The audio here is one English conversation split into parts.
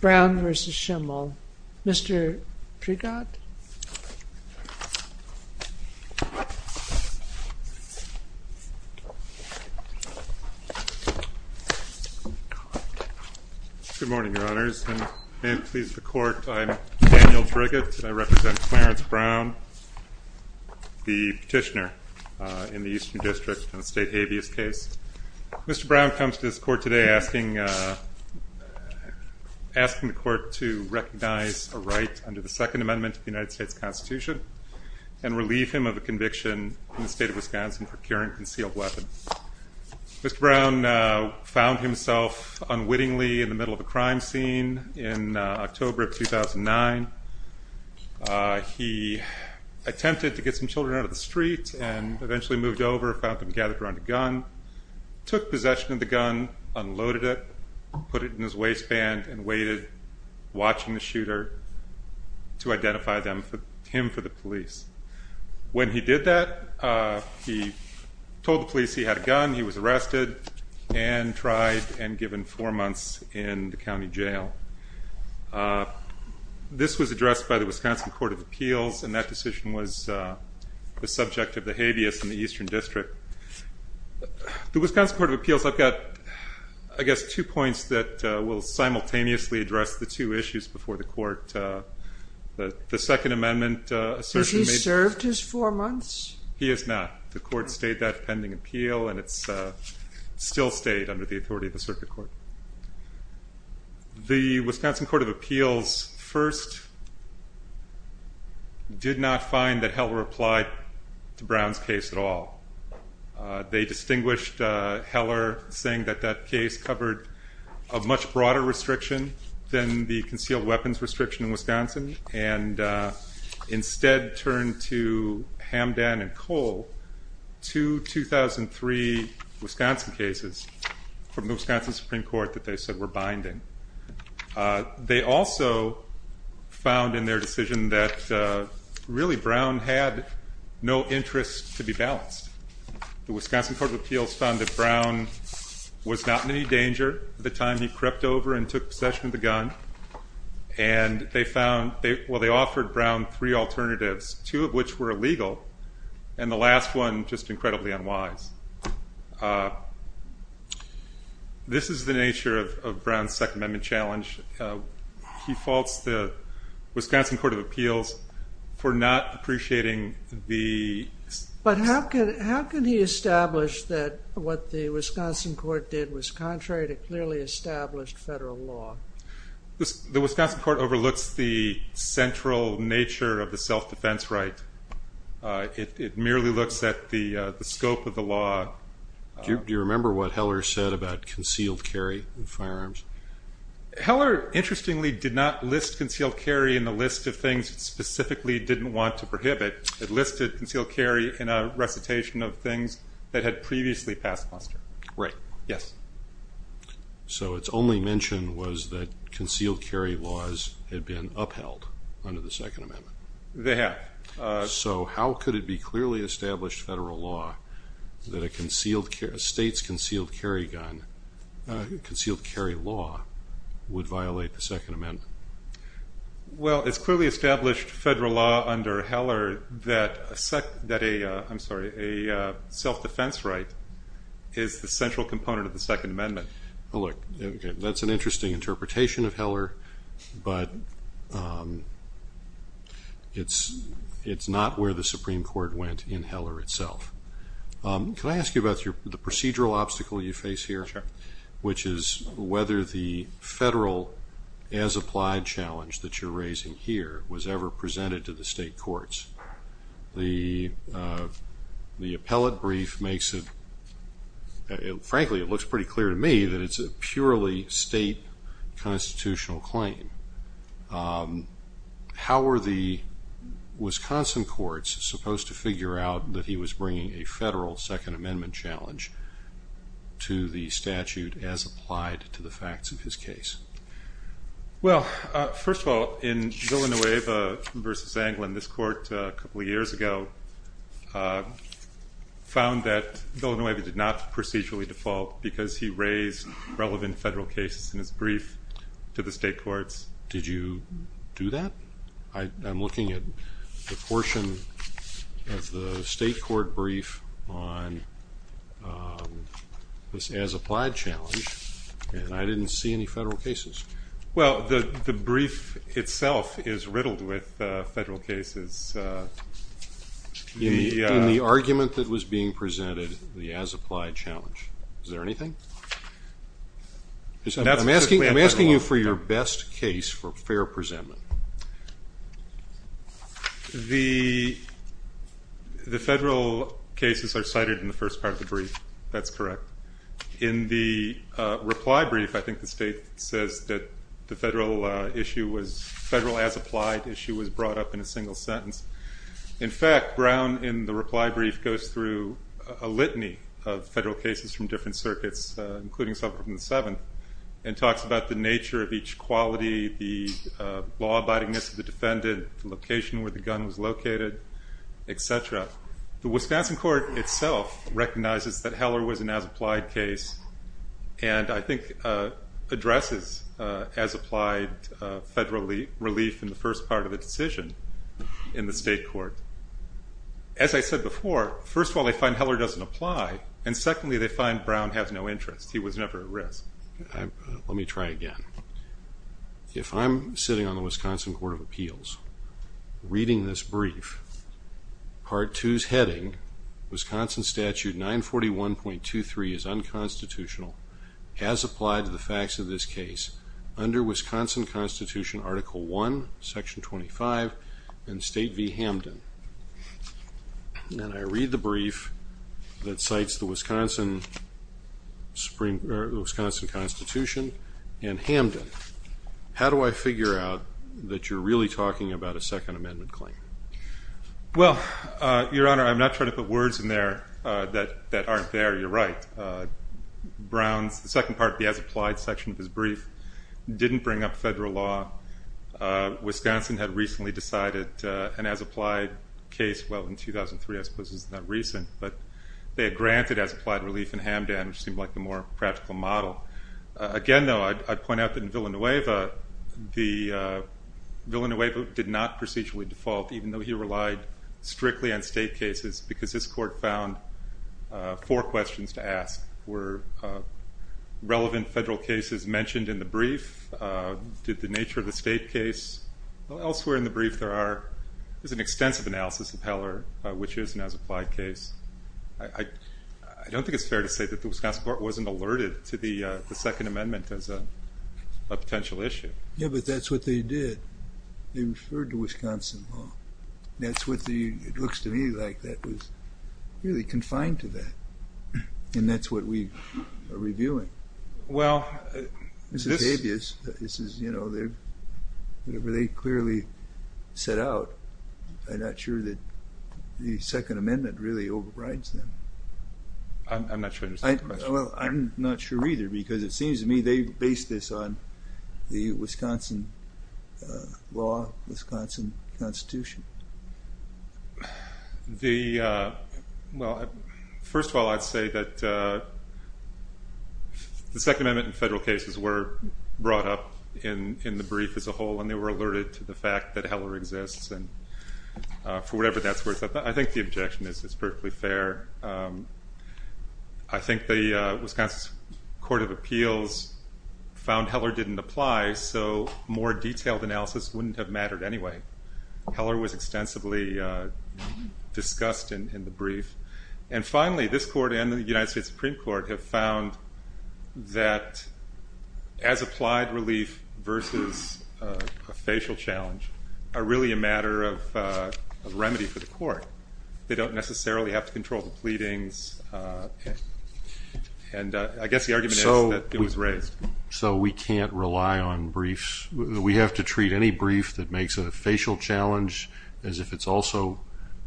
Brown v. Schimel. Mr. Prigott? Good morning, Your Honors. And please, the Court, I'm Daniel Prigott. I represent Clarence Brown, the petitioner in the Eastern District on the state habeas case. Mr. Brown comes to this Court today asking asking the Court to recognize a right under the Second Amendment of the United States Constitution and relieve him of a conviction in the state of Wisconsin for carrying a concealed weapon. Mr. Brown found himself unwittingly in the middle of a crime scene in October of 2009. He attempted to get some children out of the street and eventually moved over, found them gathered around a gun, took possession of the gun, unloaded it, put it in his waistband, and waited, watching the shooter, to identify him for the police. When he did that, he told the police he had a gun, he was arrested, and tried and given four months in the county jail. This was addressed by the Wisconsin Court of Appeals, and that decision was the subject of the habeas in the Eastern District. The Wisconsin Court of Appeals, I've got, I guess, two points that will simultaneously address the two issues before the Court. The Second Amendment assertion... Has he served his four months? He has not. The Court stayed that pending appeal, and it's still stayed under the authority of the Circuit Court. The Wisconsin Court of Appeals first did not find that Heller applied to Brown's case at all. They distinguished Heller saying that that case covered a much broader restriction than the concealed weapons restriction in Wisconsin, and instead turned to Hamdan and Cole, two 2003 Wisconsin cases from the Wisconsin Supreme Court that they said were binding. They also found in their decision that, really, Brown had no interest to be balanced. The Wisconsin Court of Appeals found that Brown was not in any danger at the time he crept over and took possession of the gun, and they found, well, they offered Brown three alternatives, two of which were illegal, and the last one just incredibly unwise. This is the nature of Brown's Second Amendment challenge. He faults the Wisconsin Court of Appeals for not appreciating the... But how can he establish that what the Wisconsin Court did was contrary to clearly established federal law? The Wisconsin Court overlooks the central nature of the self-defense right. It merely looks at the scope of the law. Do you remember what Heller said about concealed carry in firearms? Heller, interestingly, did not list concealed carry in the list of things it specifically didn't want to prohibit. It listed concealed carry in a recitation of things that had previously passed muster. Right. Yes. So its only mention was that concealed carry laws had been upheld under the Second Amendment. They have. So how could it be clearly established federal law that a state's concealed carry law would violate the Second Amendment? Well, it's clearly established federal law under Heller that a self-defense right is the central component of the Second Amendment. Well, look, that's an interesting interpretation of Heller, but it's not where the Supreme Court went in Heller itself. Could I ask you about the procedural obstacle you face here? Sure. Which is whether the federal as-applied challenge that you're raising here was ever presented to the state courts. The appellate brief makes it, frankly, it looks pretty clear to me that it's a purely state constitutional claim. How were the Wisconsin courts supposed to figure out that he was bringing a federal Second Amendment challenge to the statute as applied to the facts of his case? Well, first of all, in Villanueva v. Anglin, this court a couple of years ago found that Villanueva did not procedurally default because he raised relevant federal cases in his brief to the state courts. Did you do that? I'm looking at the portion of the state court brief on this as-applied challenge, and I didn't see any federal cases. Well, the brief itself is riddled with federal cases. In the argument that was being presented, the as-applied challenge, is there anything? I'm asking you for your best case for fair presentment. The federal cases are cited in the first part of the brief. That's correct. In the reply brief, I think the state says that the federal as-applied issue was brought up in a single sentence. In fact, Brown, in the reply brief, goes through a litany of federal cases from different circuits, including several from the Seventh, and talks about the nature of each quality, the law-abidingness of the defendant, the location where the gun was located, etc. The Wisconsin court itself recognizes that Heller was an as-applied case, and I think addresses as-applied federal relief in the first part of the decision in the state court. As I said before, first of all, they find Heller doesn't apply, and secondly, they find Brown has no interest. He was never at risk. Let me try again. If I'm sitting on the Wisconsin Court of Appeals, reading this brief, Part 2's heading, Wisconsin Statute 941.23 is unconstitutional, as applied to the facts of this case, under Wisconsin Constitution Article 1, Section 25, and State v. Hamden. And I read the brief that cites the Wisconsin Constitution and Hamden. How do I figure out that you're really talking about a Second Amendment claim? Well, Your Honor, I'm not trying to put words in there that aren't there. You're right. Brown's second part, the as-applied section of his brief, didn't bring up federal law. Wisconsin had recently decided an as-applied case, well, in 2003, I suppose is not recent, but they had granted as-applied relief in Hamden, which seemed like the more practical model. Again, though, I'd point out that in Villanueva, Villanueva did not procedurally default, even though he relied strictly on state cases, because this court found four questions to ask. Were relevant federal cases mentioned in the brief? Did the nature of the state case? Elsewhere in the brief, there's an extensive analysis of Heller, which is an as-applied case. I don't think it's fair to say that the Wisconsin court wasn't alerted to the Second Amendment as a potential issue. Yeah, but that's what they did. They referred to Wisconsin law. That's what the, it looks to me like that was really confined to that. And that's what we are reviewing. Well, this is, you know, whatever they clearly set out, I'm not sure that the Second Amendment really overrides them. I'm not sure. I'm not sure either, because it seems to me they base this on the Wisconsin law, Wisconsin Constitution. The, well, first of all, I'd say that the Second Amendment and federal cases were brought up in the brief as a whole, and they were alerted to the fact that Heller exists, and for whatever that's worth, I think the objection is it's perfectly fair. I think the Wisconsin Court of Appeals found Heller didn't apply, so more detailed analysis wouldn't have mattered anyway. Heller was extensively discussed in the brief. And finally, this court and the United States Supreme Court have found that, as applied relief versus a facial challenge, are really a matter of remedy for the court. They don't necessarily have to control the pleadings, and I guess the argument is that it was raised. So we can't rely on briefs. We have to treat any brief that makes a facial challenge as if it's also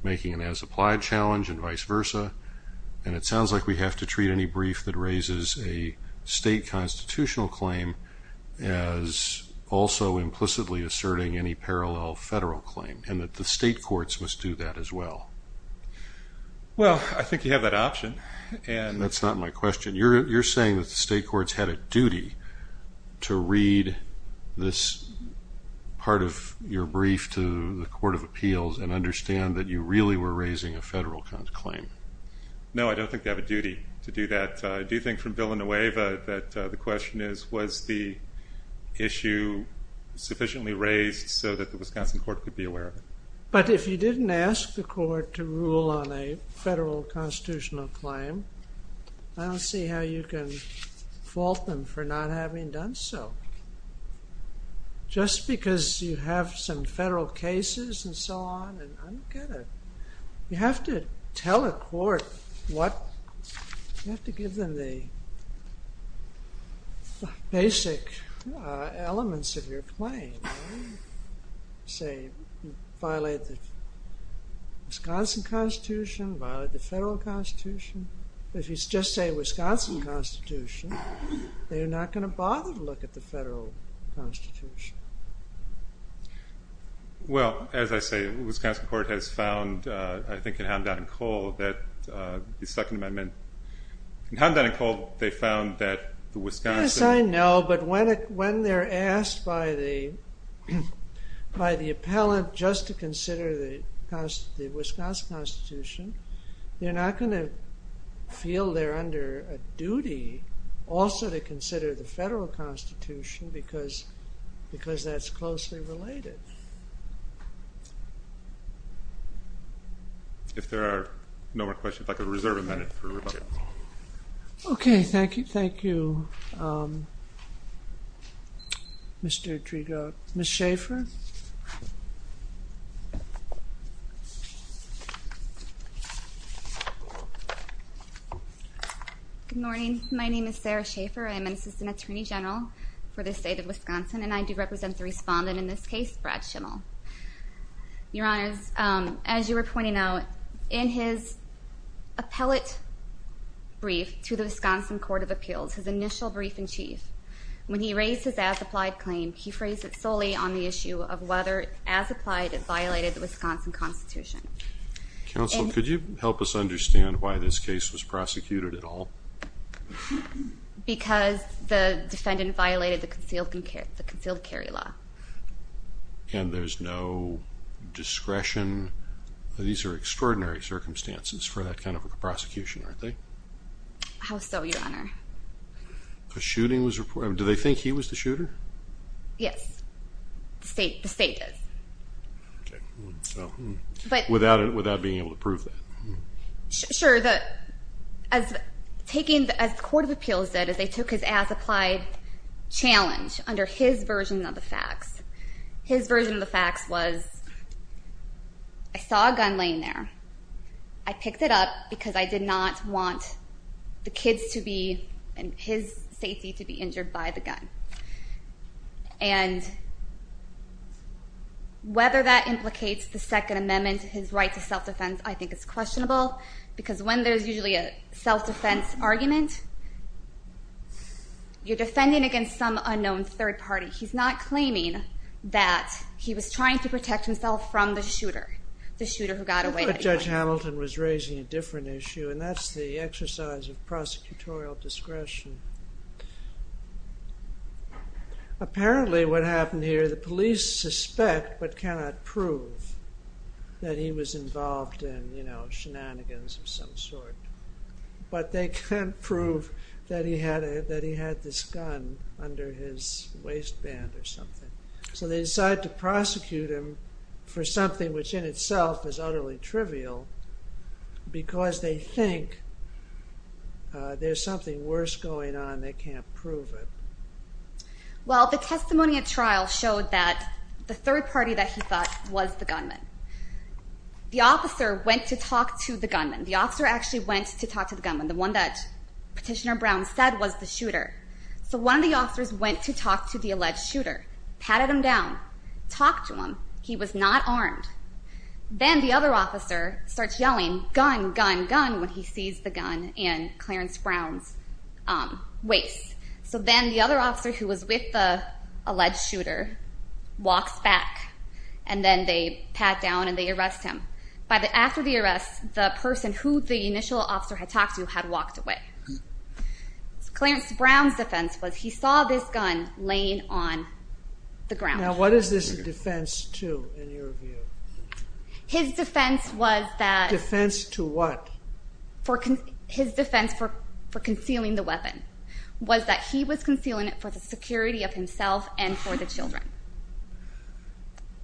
making an as-applied challenge and vice versa, and it sounds like we have to treat any brief that raises a state constitutional claim as also implicitly asserting any parallel federal claim, and that the state courts must do that as well. Well, I think you have that option. That's not my question. You're saying that the state courts had a duty to read this part of your brief to the Court of Appeals and understand that you really were raising a federal claim. No, I don't think they have a duty to do that. I do think from Villanueva that the question is was the issue sufficiently raised so that the Wisconsin Court could be aware of it. But if you didn't ask the court to rule on a federal constitutional claim, I don't see how you can fault them for not having done so. Just because you have some federal cases and so on, I don't get it. You have to tell a court what, you have to give them the basic elements of your claim. Say, violate the Wisconsin Constitution, violate the federal constitution. If you just say Wisconsin Constitution, they're not going to bother to look at the federal constitution. Well, as I say, the Wisconsin Court has found, I think in Hound Down and Cole, that the Second Amendment, in Hound Down and Cole, they found that the Wisconsin Yes, I know, but when they're asked by the appellant just to consider the Wisconsin Constitution, they're not going to feel they're under a duty also to consider the federal constitution because that's closely related. If there are no more questions, I could reserve a minute for Rebecca. Okay, thank you, Mr. Driegaard. Ms. Schaefer. Good morning. My name is Sarah Schaefer. I'm an assistant attorney general for the state of Wisconsin, and I do represent the respondent in this case, Brad Schimel. Your honors, as you were pointing out, in his appellate brief to the Wisconsin Court of Appeals, his initial brief in chief, when he raised his as-applied claim, he phrased it solely on the issue of whether as-applied it violated the Wisconsin Constitution. Counsel, could you help us understand why this case was prosecuted at all? Because the defendant violated the concealed carry law. And there's no discretion. These are extraordinary circumstances for that kind of a prosecution, aren't they? How so, your honor? A shooting was reported. Do they think he was the shooter? Yes. The state does. Okay. Without being able to prove that. Sure. As the Court of Appeals did, is they took his as-applied challenge under his version of the facts. His version of the facts was, I saw a gun laying there. I picked it up because I did not want the kids to be in his safety to be injured by the gun. And whether that implicates the Second Amendment, his right to self-defense, I think is questionable. Because when there's usually a self-defense argument, you're defending against some unknown third party. He's not claiming that he was trying to protect himself from the shooter, the shooter who got away. But Judge Hamilton was raising a different issue, and that's the exercise of prosecutorial discretion. Apparently, what happened here, the police suspect but cannot prove that he was involved in shenanigans of some sort. But they can't prove that he had this gun under his waistband or something. So they decide to prosecute him for something which in itself is utterly trivial. Because they think there's something worse going on, they can't prove it. Well, the testimony at trial showed that the third party that he thought was the gunman. The officer went to talk to the gunman. The officer actually went to talk to the gunman. So one of the officers went to talk to the alleged shooter, patted him down, talked to him. He was not armed. Then the other officer starts yelling, gun, gun, gun, when he sees the gun in Clarence Brown's waist. So then the other officer who was with the alleged shooter walks back. And then they pat down and they arrest him. After the arrest, the person who the initial officer had talked to had walked away. Clarence Brown's defense was he saw this gun laying on the ground. Now what is this a defense to in your view? His defense was that... Defense to what? His defense for concealing the weapon was that he was concealing it for the security of himself and for the children.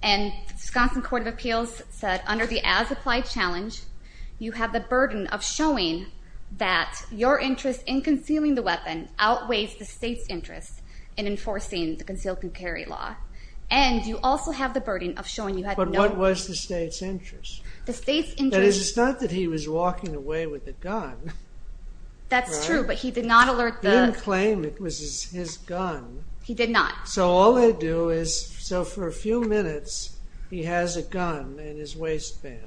And the Wisconsin Court of Appeals said under the as-applied challenge, you have the burden of showing that your interest in concealing the weapon outweighs the state's interest in enforcing the concealed carry law. And you also have the burden of showing you have no... But what was the state's interest? The state's interest... That is, it's not that he was walking away with a gun. That's true, but he did not alert the... He didn't claim it was his gun. He did not. So all they do is... So for a few minutes, he has a gun in his waistband.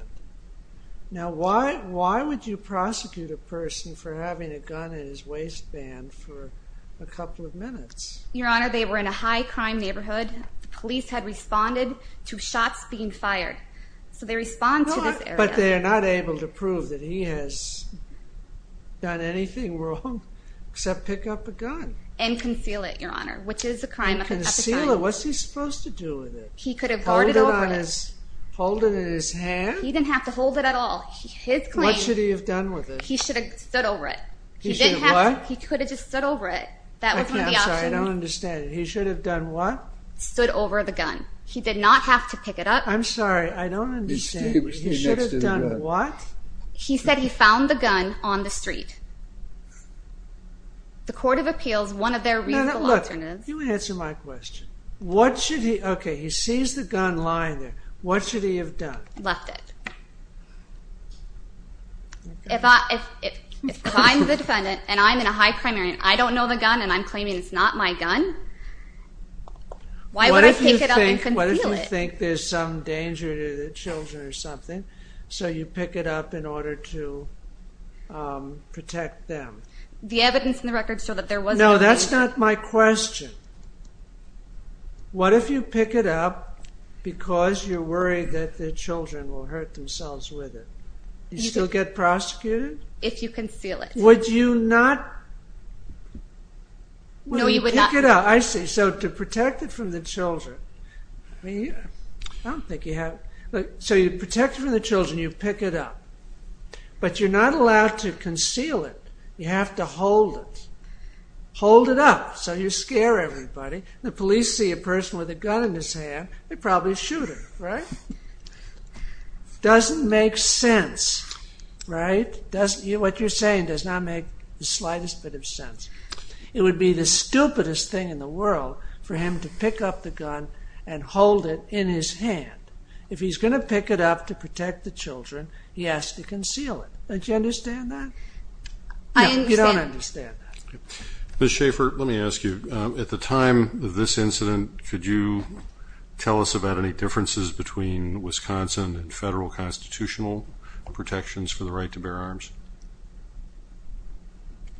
Now why would you prosecute a person for having a gun in his waistband for a couple of minutes? Your Honor, they were in a high-crime neighborhood. The police had responded to shots being fired. So they respond to this area. But they are not able to prove that he has done anything wrong except pick up a gun. And conceal it, Your Honor, which is a crime of... And conceal it? What's he supposed to do with it? He could have... Hold it on his... Hold it in his hand? He didn't have to hold it at all. His claim... What should he have done with it? He should have stood over it. He should have what? He could have just stood over it. That was one of the options. I'm sorry, I don't understand. He should have done what? Stood over the gun. He did not have to pick it up. I'm sorry, I don't understand. He should have done what? He said he found the gun on the street. The Court of Appeals, one of their reasonable options is... Look, you answer my question. What should he... Okay, he sees the gun lying there. What should he have done? Left it. If I'm the defendant, and I'm in a high crime area, and I don't know the gun, and I'm claiming it's not my gun, why would I pick it up and conceal it? What if you think there's some danger to the children or something, so you pick it up in order to protect them? The evidence in the record showed that there was no danger. No, that's not my question. What if you pick it up because you're worried that the children will hurt themselves with it? You still get prosecuted? If you conceal it. Would you not... No, you would not. I see. So to protect it from the children. I don't think you have... So you protect it from the children, you pick it up. But you're not allowed to conceal it. You have to hold it. Hold it up so you scare everybody. If the police see a person with a gun in his hand, they'd probably shoot him, right? Doesn't make sense, right? What you're saying does not make the slightest bit of sense. It would be the stupidest thing in the world for him to pick up the gun and hold it in his hand. If he's going to pick it up to protect the children, he has to conceal it. Don't you understand that? I understand. You don't understand that. Ms. Schaffer, let me ask you. At the time of this incident, could you tell us about any differences between Wisconsin and federal constitutional protections for the right to bear arms?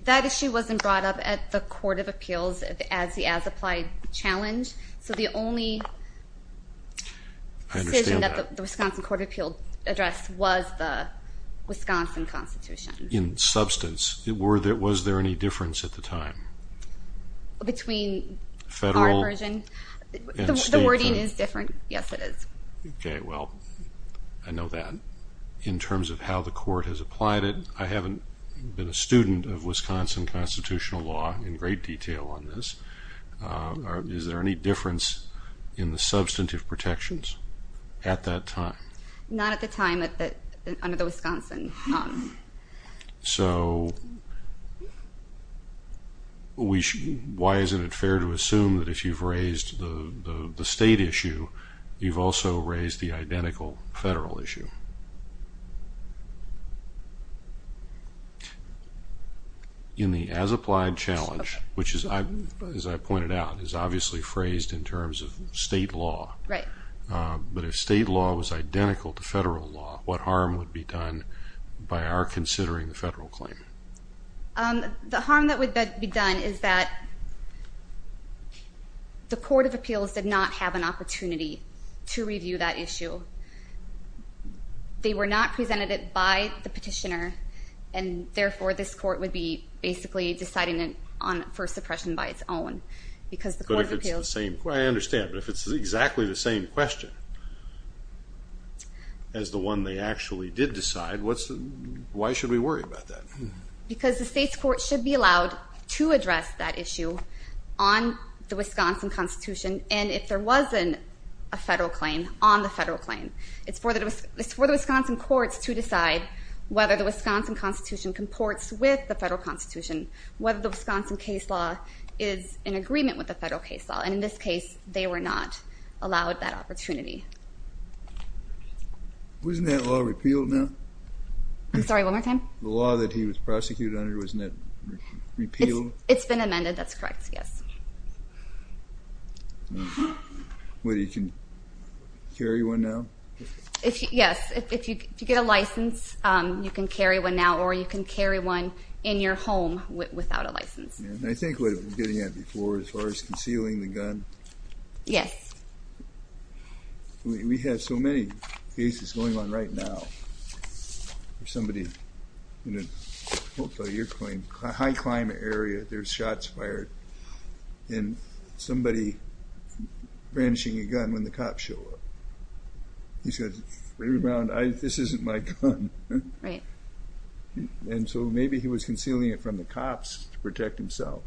That issue wasn't brought up at the Court of Appeals as the as-applied challenge. So the only decision that the Wisconsin Court of Appeals addressed was the Wisconsin Constitution. In substance, was there any difference at the time? Between our version? The wording is different. Yes, it is. Okay, well, I know that. In terms of how the Court has applied it, I haven't been a student of Wisconsin constitutional law in great detail on this. Is there any difference in the substantive protections at that time? Not at the time under the Wisconsin. So why isn't it fair to assume that if you've raised the state issue, you've also raised the identical federal issue? In the as-applied challenge, which, as I pointed out, is obviously phrased in terms of state law. Right. But if state law was identical to federal law, what harm would be done by our considering the federal claim? The harm that would be done is that the Court of Appeals did not have an opportunity to review that issue. They were not presented it by the petitioner, and, therefore, this Court would be basically deciding it for suppression by its own because the Court of Appeals. I understand, but if it's exactly the same question as the one they actually did decide, why should we worry about that? Because the state's court should be allowed to address that issue on the Wisconsin Constitution, and if there wasn't a federal claim on the federal claim, it's for the Wisconsin courts to decide whether the Wisconsin Constitution comports with the federal constitution, whether the Wisconsin case law is in agreement with the federal case law. And in this case, they were not allowed that opportunity. Wasn't that law repealed now? I'm sorry, one more time? The law that he was prosecuted under, wasn't that repealed? It's been amended. It's been amended. That's correct, yes. You can carry one now? Yes. If you get a license, you can carry one now, or you can carry one in your home without a license. I think what we were getting at before as far as concealing the gun. Yes. We have so many cases going on right now. There's somebody in a high-climate area, there's shots fired, and somebody brandishing a gun when the cops show up. He says, this isn't my gun. Right. And so maybe he was concealing it from the cops to protect himself.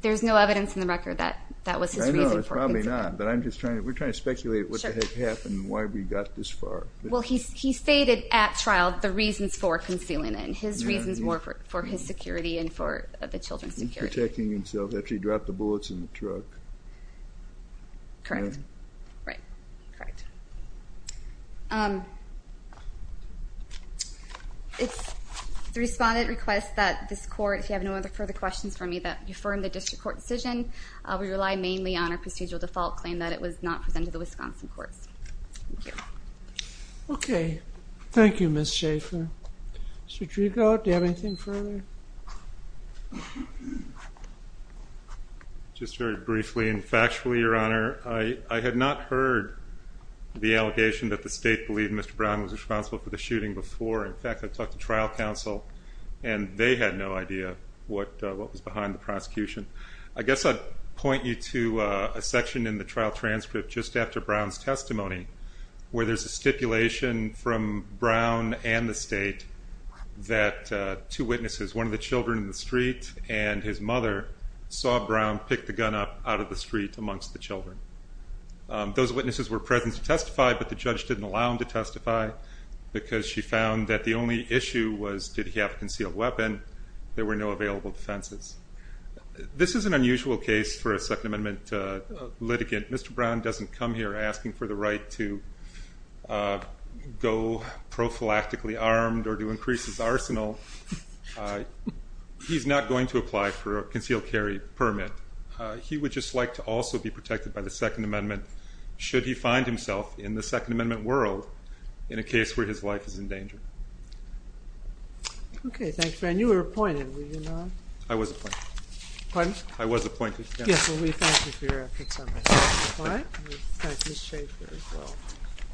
There's no evidence in the record that that was his reason for concealing. I know, there's probably not, but we're trying to speculate what the heck happened and why we got this far. Well, he stated at trial the reasons for concealing it, and his reasons were for his security and for the children's security. He's protecting himself after he dropped the bullets in the truck. Correct. Right. Correct. The respondent requests that this court, if you have no other further questions for me, that we affirm the district court decision. We rely mainly on our procedural default claim that it was not presented to the Wisconsin courts. Thank you. OK. Thank you, Ms. Schaefer. Mr. Drigo, do you have anything further? Just very briefly and factually, Your Honor, I had not heard the allegation that the state believed Mr. Brown was responsible for the shooting before. In fact, I talked to trial counsel, and they had no idea what was behind the prosecution. I guess I'd point you to a section in the trial transcript just after Brown's testimony where there's a stipulation from Brown and the state that two witnesses, one of the children in the street and his mother, saw Brown pick the gun up out of the street amongst the children. Those witnesses were present to testify, but the judge didn't allow him to testify because she found that the only issue was did he have a concealed weapon. There were no available defenses. This is an unusual case for a Second Amendment litigant. Mr. Brown doesn't come here asking for the right to go prophylactically armed or to increase his arsenal. He's not going to apply for a concealed carry permit. He would just like to also be protected by the Second Amendment should he find himself in the Second Amendment world in a case where his life is in danger. OK, thanks, Ben. You were appointed, were you not? I was appointed. Pardon? I was appointed. Yes, well, we thank you for your efforts on this. All right. Thank you.